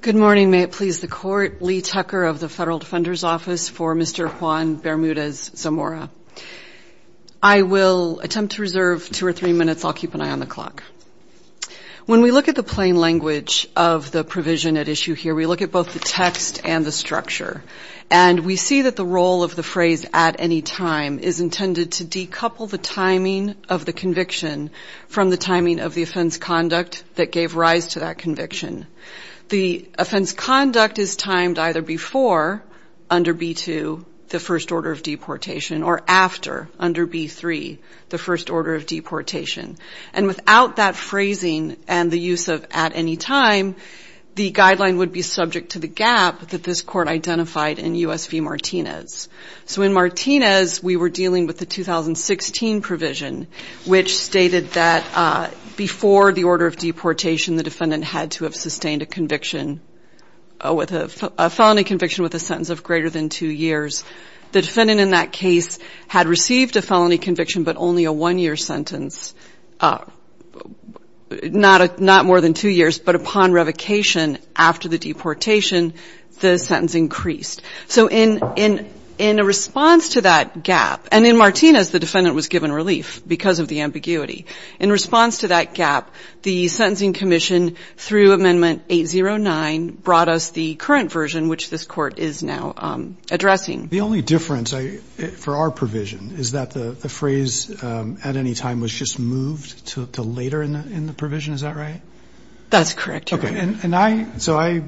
Good morning. May it please the Court. Lee Tucker of the Federal Defender's Office for Mr. Juan Bermudez-Zamora. I will attempt to reserve two or three minutes. I'll keep an eye on the clock. When we look at the plain language of the provision at issue here, we look at both the text and the structure, and we see that the role of the phrase, at any time, is intended to decouple the timing of the conviction from the timing of the offense conduct that gave rise to that conviction. The offense conduct is timed either before, under B-2, the first order of deportation, or after, under B-3, the first order of deportation. And without that phrasing and the use of at any time, the guideline would be subject to the gap that this Court identified in U.S. v. Martinez. So in Martinez, we were dealing with the 2016 provision, which stated that before the order of deportation, the defendant had to have sustained a conviction, a felony conviction with a sentence of greater than two years. The defendant in that case had received a felony conviction but only a one-year sentence, not more than two years, but upon revocation after the deportation, the sentence increased. So in response to that gap, and in Martinez, the defendant was given relief because of the ambiguity. In response to that gap, the Sentencing Commission, through Amendment 809, brought us the current version, which this Court is now addressing. The only difference for our provision is that the phrase at any time was just moved to later in the provision. That's correct, Your Honor. Okay. And I, so I,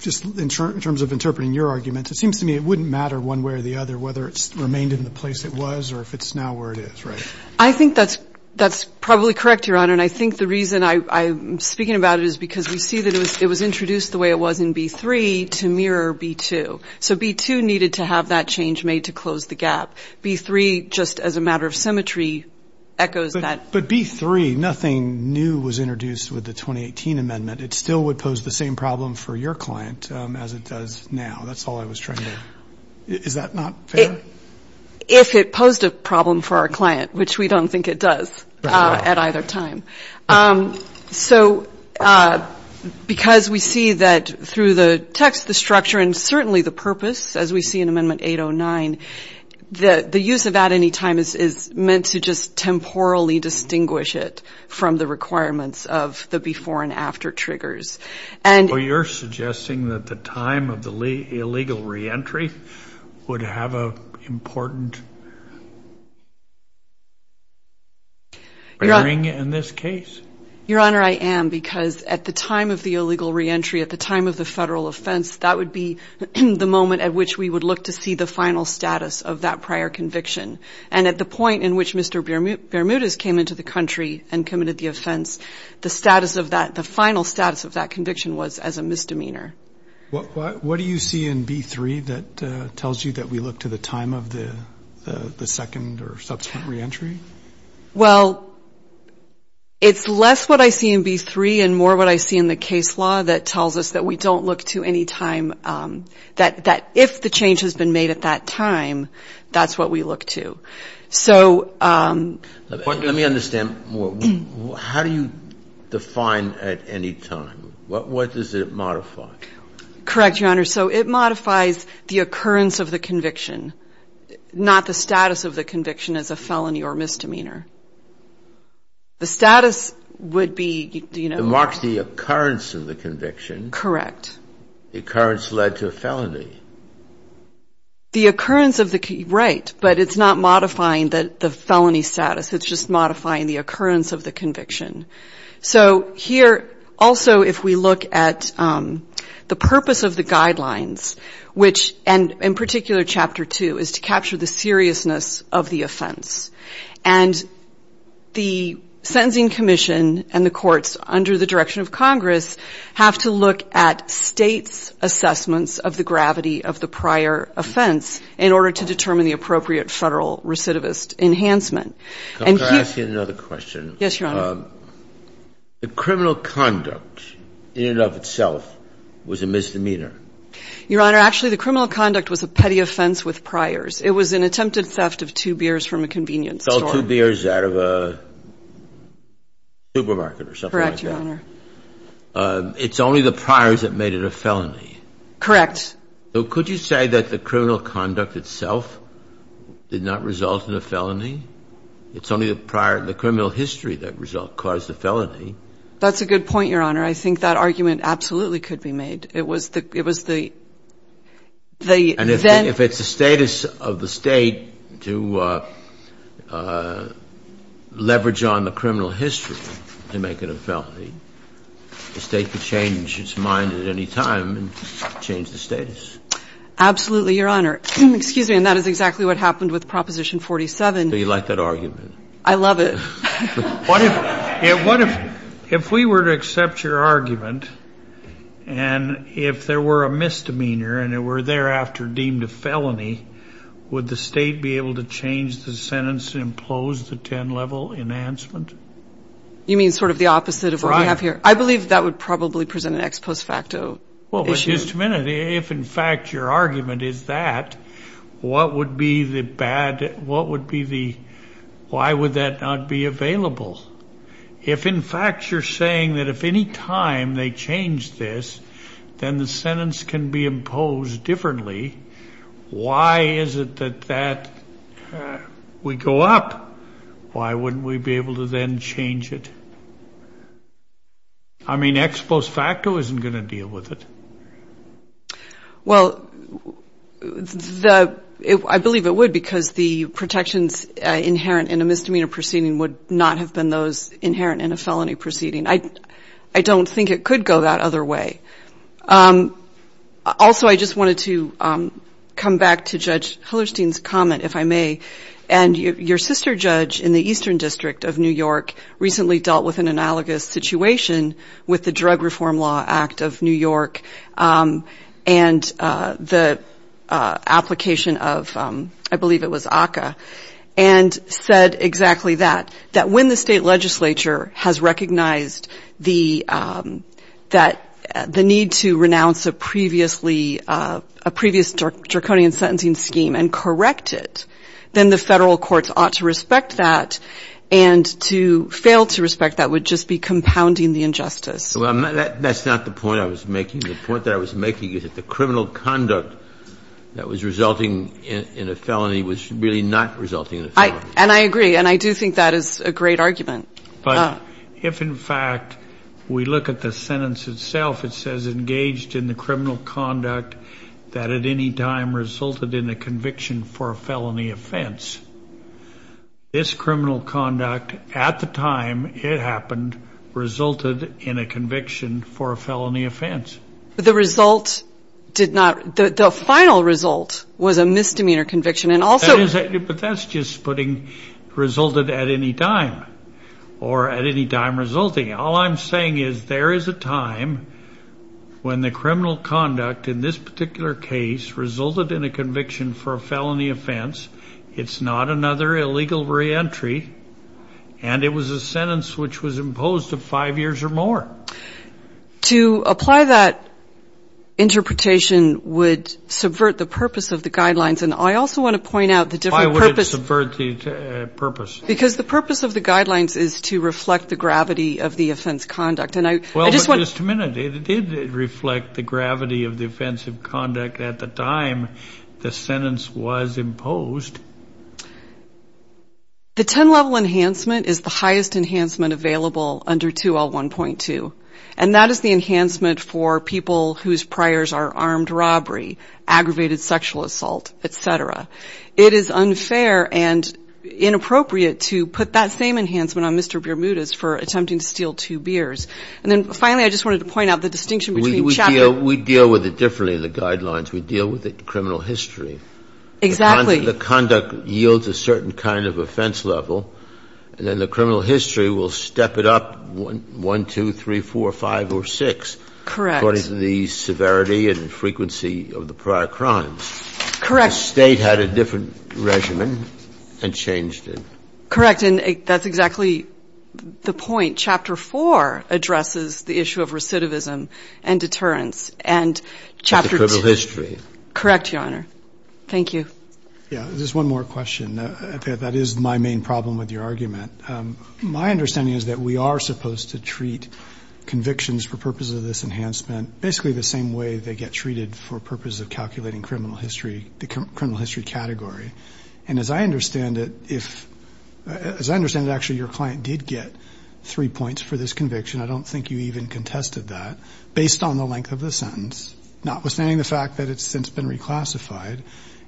just in terms of interpreting your argument, it seems to me it wouldn't matter one way or the other whether it's remained in the place it was or if it's now where it is, right? I think that's probably correct, Your Honor. And I think the reason I'm speaking about it is because we see that it was introduced the way it was in B-3 to mirror B-2. So B-2 needed to have that change made to close the gap. B-3, just as a matter of symmetry, echoes that. But B-3, nothing new was introduced with the 2018 amendment. It still would pose the same problem for your client as it does now. That's all I was trying to, is that not fair? If it posed a problem for our client, which we don't think it does at either time. So because we see that through the text, the structure, and certainly the purpose, as we see in Amendment 809, the use of at any time is meant to just temporally distinguish it from the requirements of the before and after triggers. So you're suggesting that the time of the illegal reentry would have an important ring in this case? Your Honor, I am, because at the time of the illegal reentry, at the time of the federal offense, that would be the moment at which we would look to see the final status of that prior conviction. And at the point in which Mr. Bermudez came into the country and committed the offense, the status of that, the final status of that conviction was as a misdemeanor. What do you see in B-3 that tells you that we look to the time of the second or subsequent reentry? Well, it's less what I see in B-3 and more what I see in the case law that tells us that we don't look to any time that if the change has been made at that time, that's what we look to. So the point is that we look to the time of the second or subsequent reentry. Let me understand more. How do you define at any time? What does it modify? Correct, Your Honor. So it modifies the occurrence of the conviction, not the status of the conviction as a felony or misdemeanor. The status would be, you know. It marks the occurrence of the conviction. Correct. The occurrence led to a felony. The occurrence of the, right, but it's not modifying the felony status. It's just modifying the occurrence of the conviction. So here also if we look at the purpose of the guidelines, which, and in particular Chapter 2, is to capture the seriousness of the offense, and the Sentencing Commission and the courts under the direction of Congress have to look at states' assessments of the gravity of the prior offense in order to determine the appropriate federal recidivist enhancement. Could I ask you another question? Yes, Your Honor. The criminal conduct in and of itself was a misdemeanor. Your Honor, actually the criminal conduct was a petty offense with priors. It was an attempted theft of two beers from a convenience store. Sold two beers out of a supermarket or something like that. Correct, Your Honor. It's only the priors that made it a felony. Correct. So could you say that the criminal conduct itself did not result in a felony? It's only the prior, the criminal history that result, caused the felony. That's a good point, Your Honor. I think that argument absolutely could be made. It was the, it was the, the then. And if it's the status of the State to leverage on the criminal history to make it a felony, the State could change its mind at any time and change the status. Absolutely, Your Honor. Excuse me. And that is exactly what happened with Proposition 47. So you like that argument? I love it. What if, what if, if we were to accept your argument and if there were a misdemeanor and it were thereafter deemed a felony, would the State be able to change the sentence and impose the 10-level enhancement? You mean sort of the opposite of what we have here? Right. I believe that would probably present an ex post facto issue. Well, but just a minute. If in fact your argument is that, what would be the bad, what would be the, why would that not be available? If in fact you're saying that if any time they change this, then the sentence can be imposed differently, why is it that that would go up? Why wouldn't we be able to then change it? I mean, ex post facto isn't going to deal with it. Well, I believe it would because the protections inherent in a misdemeanor proceeding would not have been those inherent in a felony proceeding. I don't think it could go that other way. Also, I just wanted to come back to Judge Hillerstein's comment, if I may. And your sister judge in the Eastern District of New York recently dealt with an analogous situation with the Drug Reform Law Act of New York and the application of, I believe it was ACCA, and said exactly that, that when the state legislature has recognized the need to renounce a previous draconian sentencing scheme and correct it, then the Federal courts ought to respect that and to fail to respect that would just be compounding the injustice. Well, that's not the point I was making. The point that I was making is that the criminal conduct that was resulting in a felony was really not resulting in a felony. And I agree. And I do think that is a great argument. But if in fact we look at the sentence itself, it says engaged in the criminal conduct that at any time resulted in a conviction for a felony offense, this criminal conduct at the time it happened resulted in a conviction for a felony offense. But the result did not, the final result was a misdemeanor conviction. But that's just putting resulted at any time or at any time resulting. All I'm saying is there is a time when the criminal conduct in this particular case resulted in a conviction for a felony offense. It's not another illegal reentry. And it was a sentence which was imposed of five years or more. To apply that interpretation would subvert the purpose of the guidelines. And I also want to point out the different purpose. Why would it subvert the purpose? Because the purpose of the guidelines is to reflect the gravity of the offense conduct. Well, just a minute. It did reflect the gravity of the offense of conduct at the time the sentence was imposed. The 10-level enhancement is the highest enhancement available under 2L1.2. And that is the enhancement for people whose priors are armed robbery, aggravated sexual assault, et cetera. It is unfair and inappropriate to put that same enhancement on Mr. Bermudez for attempting to steal two beers. And then finally, I just wanted to point out the distinction between chapter. We deal with it differently in the guidelines. We deal with it in criminal history. Exactly. The conduct yields a certain kind of offense level. And then the criminal history will step it up one, two, three, four, five, or six. Correct. According to the severity and frequency of the prior crimes. Correct. The State had a different regimen and changed it. Correct. And that's exactly the point. Chapter 4 addresses the issue of recidivism and deterrence. And chapter 2. It's the criminal history. Correct, Your Honor. Thank you. Yeah. Just one more question. That is my main problem with your argument. My understanding is that we are supposed to treat convictions for purposes of this enhancement basically the same way they get treated for purposes of calculating criminal history, the criminal history category. And as I understand it, if, as I understand it, actually your client did get three points for this conviction. I don't think you even contested that. Based on the length of the sentence. Notwithstanding the fact that it's since been reclassified.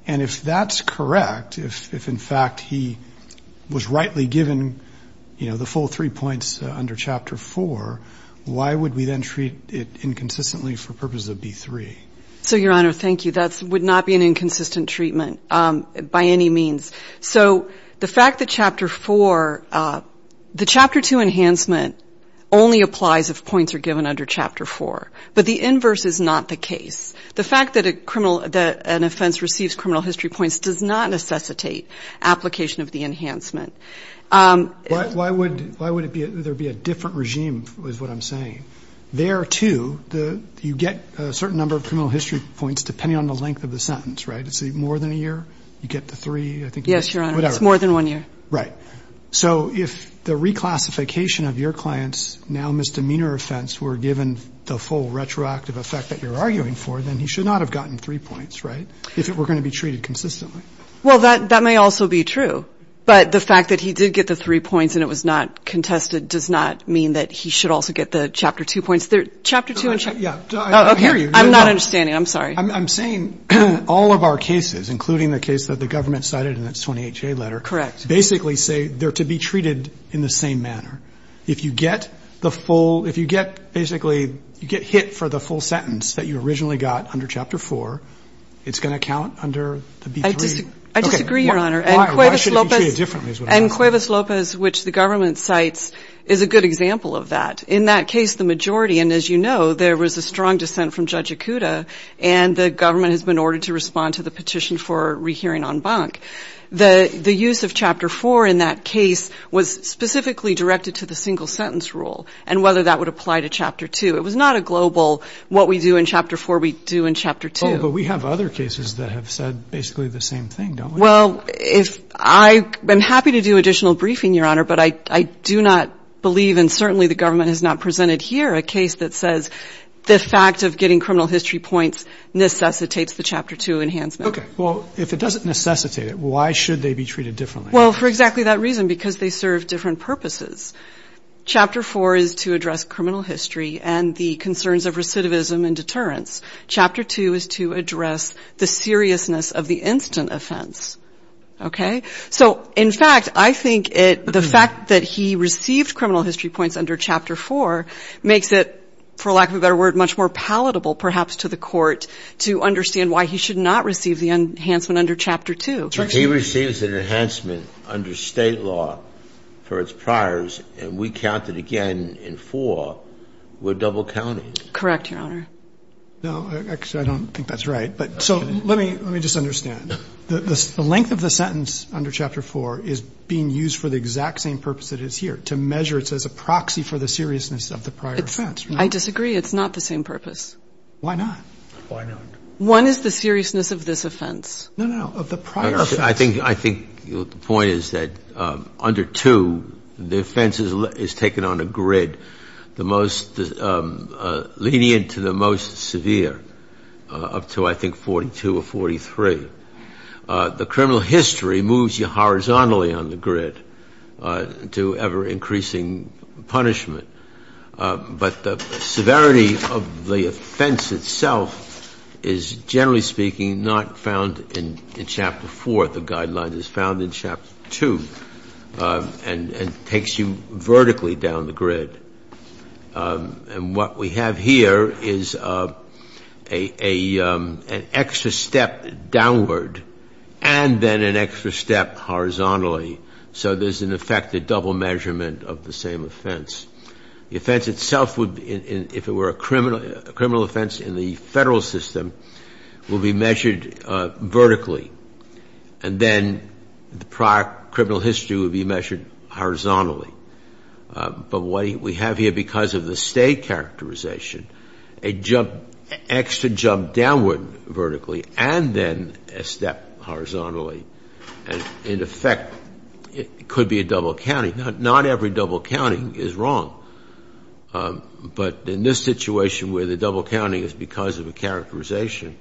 And if that's correct, if in fact he was rightly given, you know, the full three points under chapter 4, why would we then treat it inconsistently for purposes of B3? So, Your Honor, thank you. That would not be an inconsistent treatment by any means. So the fact that chapter 4, the chapter 2 enhancement only applies if points are given under chapter 4. But the inverse is not the case. The fact that an offense receives criminal history points does not necessitate application of the enhancement. Why would there be a different regime is what I'm saying. There, too, you get a certain number of criminal history points depending on the length of the sentence. Right? Is it more than a year? You get the three. Yes, Your Honor. It's more than one year. Right. So if the reclassification of your client's now misdemeanor offense were given the full retroactive effect that you're arguing for, then he should not have gotten three points. Right? If it were going to be treated consistently. Well, that may also be true. But the fact that he did get the three points and it was not contested does not mean that he should also get the chapter 2 points. Chapter 2. I don't hear you. I'm not understanding. I'm sorry. I'm saying all of our cases, including the case that the government cited in its 28-J letter. Correct. Basically say they're to be treated in the same manner. If you get the full, if you get basically, you get hit for the full sentence that you originally got under chapter 4, it's going to count under the B3. I disagree, Your Honor. And Cuevas Lopez, which the government cites, is a good example. In that case, the majority, and as you know, there was a strong dissent from Judge Acuda, and the government has been ordered to respond to the petition for rehearing en banc. The use of chapter 4 in that case was specifically directed to the single sentence rule and whether that would apply to chapter 2. It was not a global what we do in chapter 4 we do in chapter 2. Oh, but we have other cases that have said basically the same thing, don't we? Well, if I'm happy to do additional briefing, Your Honor, but I do not believe and certainly the government has not presented here a case that says the fact of getting criminal history points necessitates the chapter 2 enhancement. Okay. Well, if it doesn't necessitate it, why should they be treated differently? Well, for exactly that reason, because they serve different purposes. Chapter 4 is to address criminal history and the concerns of recidivism and deterrence. Chapter 2 is to address the seriousness of the instant offense. Okay? So in fact, I think the fact that he received criminal history points under chapter 4 makes it, for lack of a better word, much more palatable perhaps to the Court to understand why he should not receive the enhancement under chapter 2. If he receives an enhancement under State law for its priors and we count it again in 4, we're double counting. Correct, Your Honor. No, actually, I don't think that's right. So let me just understand. The length of the sentence under chapter 4 is being used for the exact same purpose that it is here, to measure it as a proxy for the seriousness of the prior offense. I disagree. It's not the same purpose. Why not? Why not? One is the seriousness of this offense. No, no, no. Of the prior offense. I think the point is that under 2, the offense is taken on a grid, the most lenient to the most severe, up to I think 42 or 43. The criminal history moves you horizontally on the grid to ever-increasing punishment. But the severity of the offense itself is, generally speaking, not found in chapter 4. The guideline is found in chapter 2 and takes you vertically down the grid. And what we have here is an extra step downward and then an extra step horizontally. So there's, in effect, a double measurement of the same offense. The offense itself would, if it were a criminal offense in the federal system, would be measured vertically. And then the prior criminal history would be measured horizontally. But what we have here because of the state characterization, an extra jump downward vertically and then a step horizontally. And, in effect, it could be a double counting. Not every double counting is wrong. But in this situation where the double counting is because of a characterization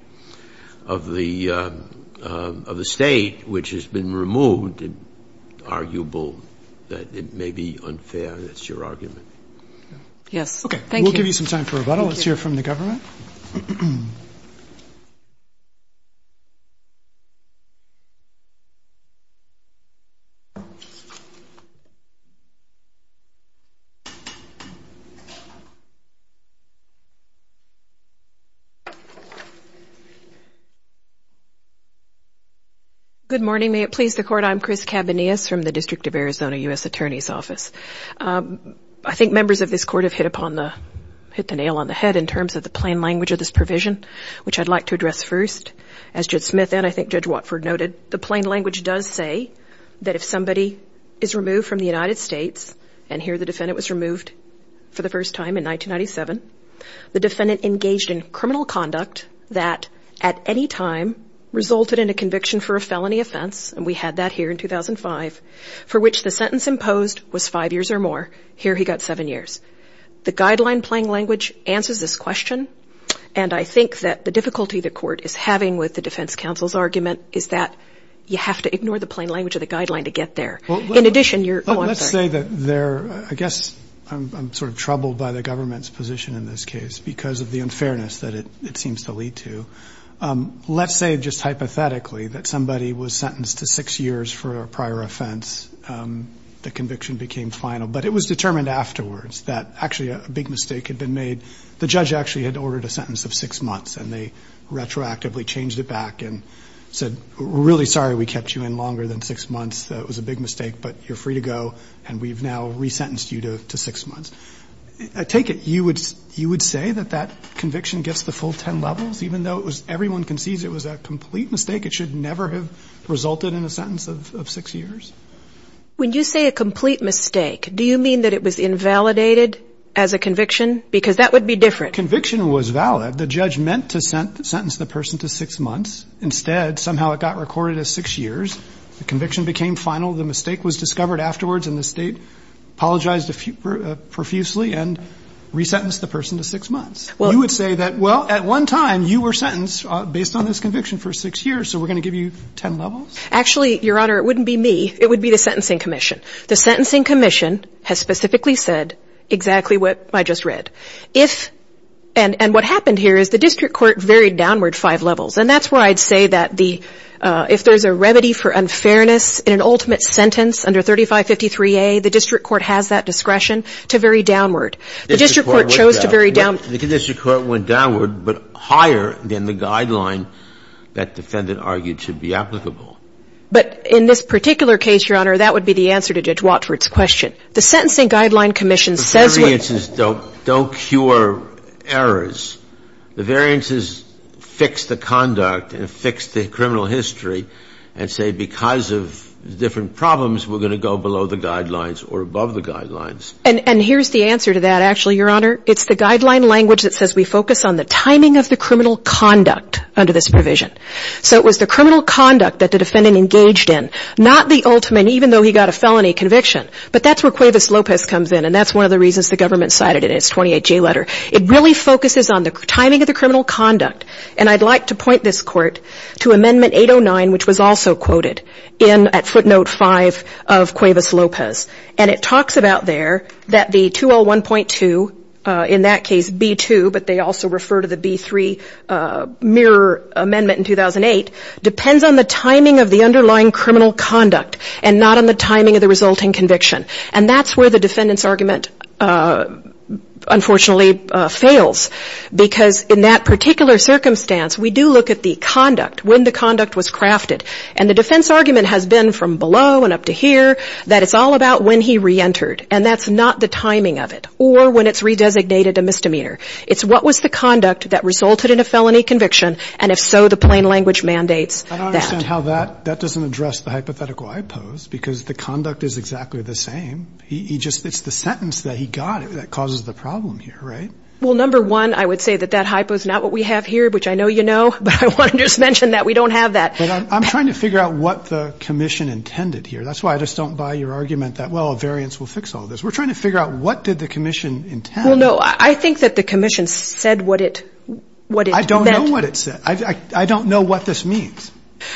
of the state, which has been removed, it's arguable that it may be unfair. That's your argument? Yes. Okay. Thank you. We'll give you some time for rebuttal. Let's hear from the government. Good morning. May it please the Court. I'm Chris Cabanillas from the District of Arizona U.S. Attorney's Office. I think members of this Court have hit the nail on the head in terms of the plain language of this provision, which I'd like to address first. As Judge Smith and, I think, Judge Watford noted, the plain language does say that if somebody is removed from the United States, and here the defendant was removed for the first time in 1997, the defendant engaged in criminal conduct that, at any time, resulted in a conviction for a felony offense, and we had that here in 2005, for which the sentence imposed was five years or more. Here he got seven years. The guideline plain language answers this question, and I think that the difficulty the Court is having with the defense counsel's argument is that you have to ignore the plain language of the guideline to get there. In addition, you're... Let's say that they're, I guess, I'm sort of troubled by the government's position in this case because of the unfairness that it seems to lead to. Let's say, just hypothetically, that somebody was sentenced to six years for a prior offense. The conviction became final. But it was determined afterwards that, actually, a big mistake had been made. The judge actually had ordered a sentence of six months, and they retroactively changed it back and said, We're really sorry we kept you in longer than six months. It was a big mistake, but you're free to go, and we've now resentenced you to six months. I take it you would say that that conviction gets the full ten levels, even though it was, everyone concedes it was a complete mistake? It should never have resulted in a sentence of six years? When you say a complete mistake, do you mean that it was invalidated as a conviction? Because that would be different. Conviction was valid. The judge meant to sentence the person to six months. Instead, somehow it got recorded as six years. The conviction became final. The mistake was discovered afterwards, and the state apologized profusely and resentenced the person to six months. You would say that, well, at one time, you were sentenced based on this conviction for six years, so we're going to give you ten levels? Actually, Your Honor, it wouldn't be me. It would be the Sentencing Commission. The Sentencing Commission has specifically said exactly what I just read. If, and what happened here is the district court varied downward five levels, and that's where I'd say that the, if there's a remedy for unfairness in an ultimate sentence under 3553A, the district court has that discretion to vary downward. The district court chose to vary downward. The district court went downward, but higher than the guideline that defendant argued should be applicable. But in this particular case, Your Honor, that would be the answer to Judge Watford's question. The Sentencing Guideline Commission says when the variances don't cure errors. The variances fix the conduct and fix the criminal history and say because of different problems, we're going to go below the guidelines or above the guidelines. And here's the answer to that, actually, Your Honor. It's the guideline language that says we focus on the timing of the criminal conduct under this provision. So it was the criminal conduct that the defendant engaged in, not the ultimate, even though he got a felony conviction. But that's where Cuevas Lopez comes in, and that's one of the reasons the government cited it in its 28J letter. It really focuses on the timing of the criminal conduct. And I'd like to point this Court to Amendment 809, which was also quoted at footnote 5 of Cuevas Lopez. And it talks about there that the 201.2, in that case, B2, but they also refer to the B3 mirror amendment in 2008, depends on the timing of the underlying criminal conduct and not on the timing of the resulting conviction. And that's where the defendant's argument unfortunately fails, because in that particular circumstance, we do look at the conduct, when the conduct was crafted. And the defense argument has been from below and up to here that it's all about when he reentered, and that's not the timing of it or when it's redesignated a misdemeanor. It's what was the conduct that resulted in a felony conviction, and if so, the plain language mandates that. I don't understand how that doesn't address the hypothetical I pose, because the hypothetical is the same. It's the sentence that he got that causes the problem here, right? Well, number one, I would say that that hypo is not what we have here, which I know you know, but I want to just mention that we don't have that. But I'm trying to figure out what the commission intended here. That's why I just don't buy your argument that, well, a variance will fix all this. We're trying to figure out what did the commission intend. Well, no, I think that the commission said what it meant. I don't know what it said. I don't know what this means,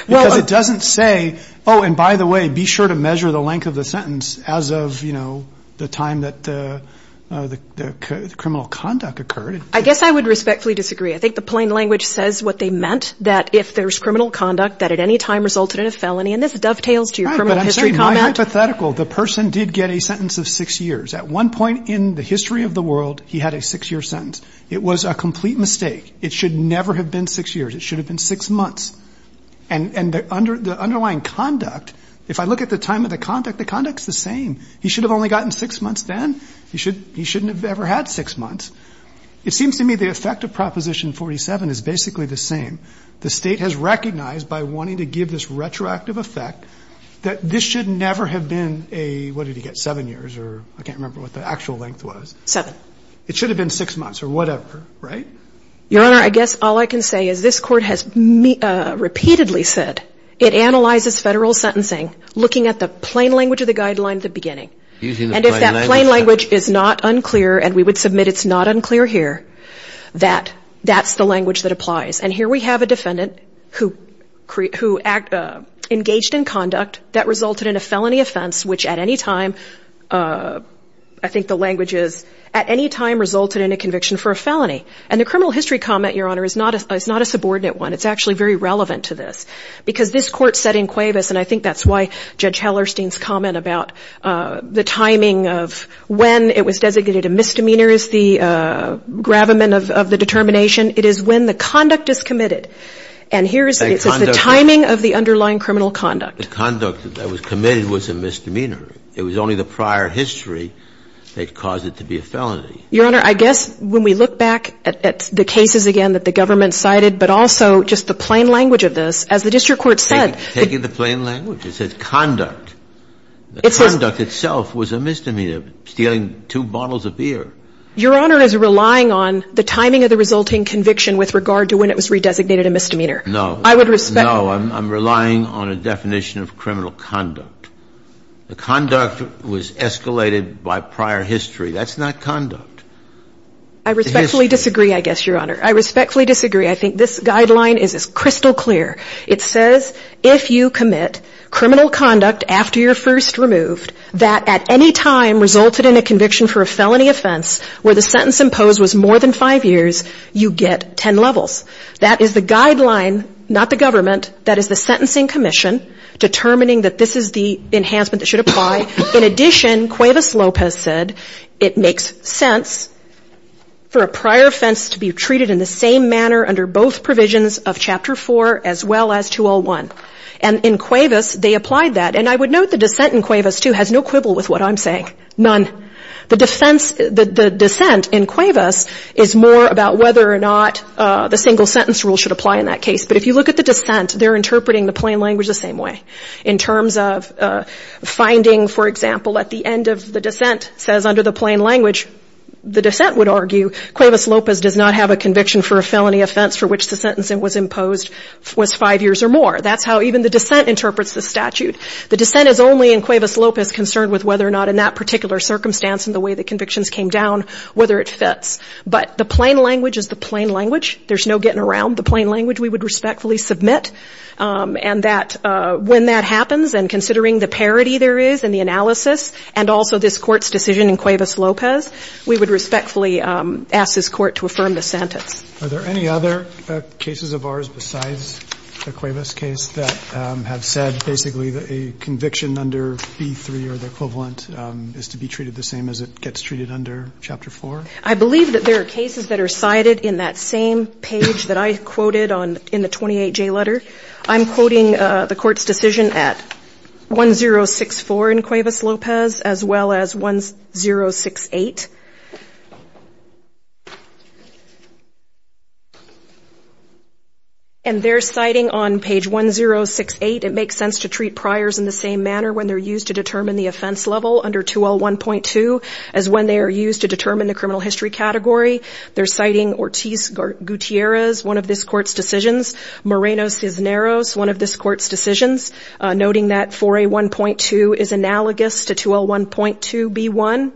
because it doesn't say, oh, and by the way, be sure to measure the length of the sentence as of, you know, the time that the criminal conduct occurred. I guess I would respectfully disagree. I think the plain language says what they meant, that if there's criminal conduct that at any time resulted in a felony, and this dovetails to your criminal history comment. Right, but I'm stating my hypothetical. The person did get a sentence of six years. At one point in the history of the world, he had a six-year sentence. It was a complete mistake. It should never have been six years. It should have been six months. And the underlying conduct, if I look at the time of the conduct, the conduct's the same. He should have only gotten six months then. He shouldn't have ever had six months. It seems to me the effect of Proposition 47 is basically the same. The State has recognized by wanting to give this retroactive effect that this should never have been a, what did he get, seven years, or I can't remember what the actual length was. Seven. It should have been six months or whatever, right? Your Honor, I guess all I can say is this Court has repeatedly said it analyzes federal sentencing looking at the plain language of the guidelines at the beginning. And if that plain language is not unclear, and we would submit it's not unclear here, that that's the language that applies. And here we have a defendant who engaged in conduct that resulted in a felony offense, which at any time, I think the language is, at any time resulted in a conviction for a felony. And the criminal history comment, Your Honor, is not a subordinate one. It's actually very relevant to this. Because this Court said in Cuevas, and I think that's why Judge Hellerstein's comment about the timing of when it was designated a misdemeanor is the gravamen of the determination. It is when the conduct is committed. And here it says the timing of the underlying criminal conduct. The conduct that was committed was a misdemeanor. It was only the prior history that caused it to be a felony. Your Honor, I guess when we look back at the cases again that the government cited, but also just the plain language of this, as the district court said. Taking the plain language. It says conduct. The conduct itself was a misdemeanor. Stealing two bottles of beer. Your Honor is relying on the timing of the resulting conviction with regard to when it was redesignated a misdemeanor. No. I would respect. No. I'm relying on a definition of criminal conduct. The conduct was escalated by prior history. That's not conduct. I respectfully disagree, I guess, Your Honor. I respectfully disagree. I think this guideline is crystal clear. It says if you commit criminal conduct after you're first removed, that at any time resulted in a conviction for a felony offense where the sentence imposed was more than five years, you get ten levels. That is the guideline, not the government. That is the sentencing commission determining that this is the enhancement that should apply. In addition, Cuevas Lopez said it makes sense for a prior offense to be treated in the same manner under both provisions of Chapter 4 as well as 201. And in Cuevas, they applied that. And I would note the dissent in Cuevas, too, has no quibble with what I'm saying. None. The dissent in Cuevas is more about whether or not the single sentence rule should apply in that case. But if you look at the dissent, they're interpreting the plain language the same way. In terms of finding, for example, at the end of the dissent says under the plain language, the dissent would argue Cuevas Lopez does not have a conviction for a felony offense for which the sentence that was imposed was five years or more. That's how even the dissent interprets the statute. The dissent is only in Cuevas Lopez concerned with whether or not in that particular circumstance and the way the convictions came down, whether it fits. But the plain language is the plain language. There's no getting around the plain language. We would respectfully submit. And that when that happens, and considering the parity there is in the analysis and also this Court's decision in Cuevas Lopez, we would respectfully ask this Court to affirm the sentence. Are there any other cases of ours besides the Cuevas case that have said basically that a conviction under B-3 or the equivalent is to be treated the same as it gets treated under Chapter 4? I believe that there are cases that are cited in that same page that I quoted on in the 28J letter. I'm quoting the Court's decision at 1064 in Cuevas Lopez as well as 1068. And they're citing on page 1068, it makes sense to treat priors in the same manner when they're used to determine the offense level under 2L1.2 as when they are used to determine the criminal history category. They're citing Ortiz-Gutierrez, one of this Court's decisions, Moreno-Cisneros, one of this Court's decisions, noting that 4A1.2 is analogous to 2L1.2B1,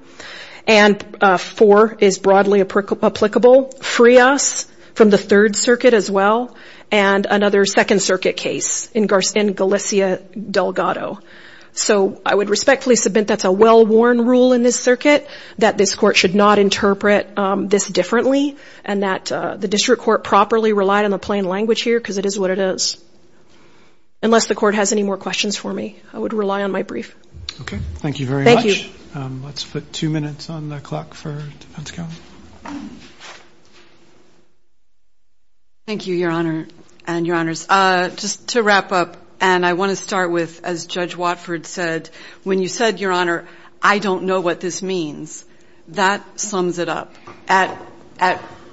and 4 is broadly applicable. Frias from the Third Circuit as well, and another Second Circuit case in Galicia Delgado. So I would respectfully submit that's a well-worn rule in this circuit, that this Court should not interpret this differently, and that the District Court properly relied on the plain language here because it is what it is. Unless the Court has any more questions for me, I would rely on my brief. Okay. Thank you very much. Thank you. Let's put two minutes on the clock for defense counsel. Thank you, Your Honor and Your Honors. Just to wrap up, and I want to start with, as Judge Watford said, when you said, Your Honor, I don't know what this means, that sums it up. At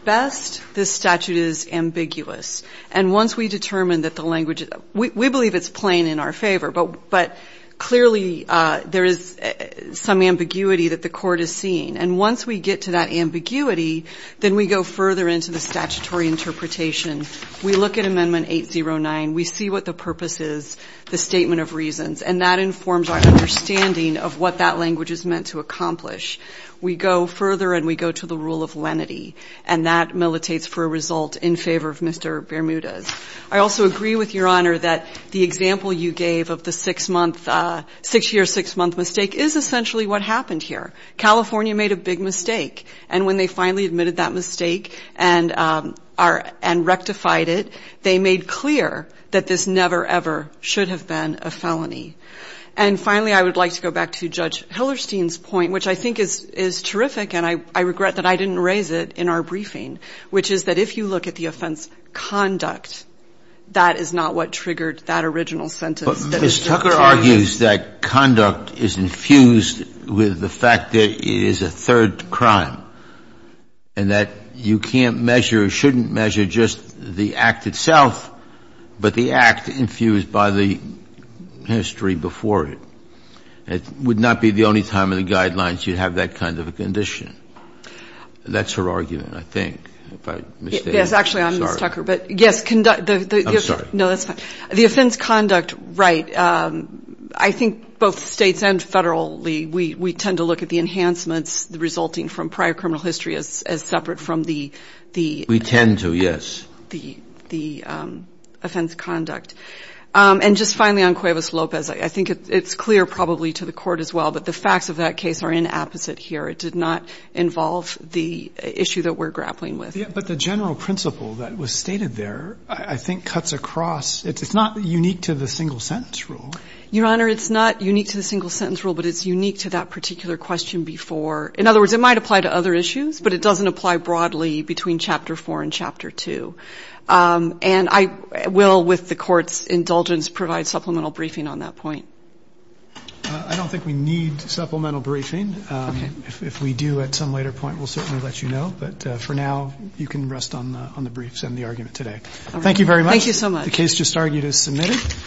best, this statute is ambiguous. And once we determine that the language we believe it's plain in our favor, but clearly there is some ambiguity that the Court is seeing. And once we get to that ambiguity, then we go further into the statutory interpretation. We look at Amendment 809. We see what the purpose is, the statement of reasons. And that informs our understanding of what that language is meant to accomplish. We go further, and we go to the rule of lenity. And that militates for a result in favor of Mr. Bermudez. I also agree with Your Honor that the example you gave of the six-year, six-month mistake is essentially what happened here. California made a big mistake. And when they finally admitted that mistake and rectified it, they made clear that this never, ever should have been a felony. And finally, I would like to go back to Judge Hillerstein's point, which I think is terrific, and I regret that I didn't raise it in our briefing, which is that if you look at the offense conduct, that is not what triggered that original sentence. But Ms. Tucker argues that conduct is infused with the fact that it is a third crime, and that you can't measure, shouldn't measure just the act itself, but the act infused by the history before it. It would not be the only time in the guidelines you'd have that kind of a condition. That's her argument, I think. If I'm mistaken. I'm sorry. Yes, actually, I'm Ms. Tucker. But, yes, the ---- I'm sorry. No, that's fine. The offense conduct, right, I think both States and Federally, we tend to look at the enhancements, the resulting from prior criminal history as separate from the ---- We tend to, yes. The offense conduct. And just finally on Cuevas-Lopez, I think it's clear probably to the Court as well that the facts of that case are inapposite here. It did not involve the issue that we're grappling with. But the general principle that was stated there, I think, cuts across. It's not unique to the single-sentence rule. Your Honor, it's not unique to the single-sentence rule, but it's unique to that particular question before. In other words, it might apply to other issues, but it doesn't apply broadly between Chapter 4 and Chapter 2. And I will, with the Court's indulgence, provide supplemental briefing on that point. I don't think we need supplemental briefing. If we do at some later point, we'll certainly let you know. But for now, you can rest on the briefs and the argument today. Thank you very much. Thank you so much. The case just argued is submitted.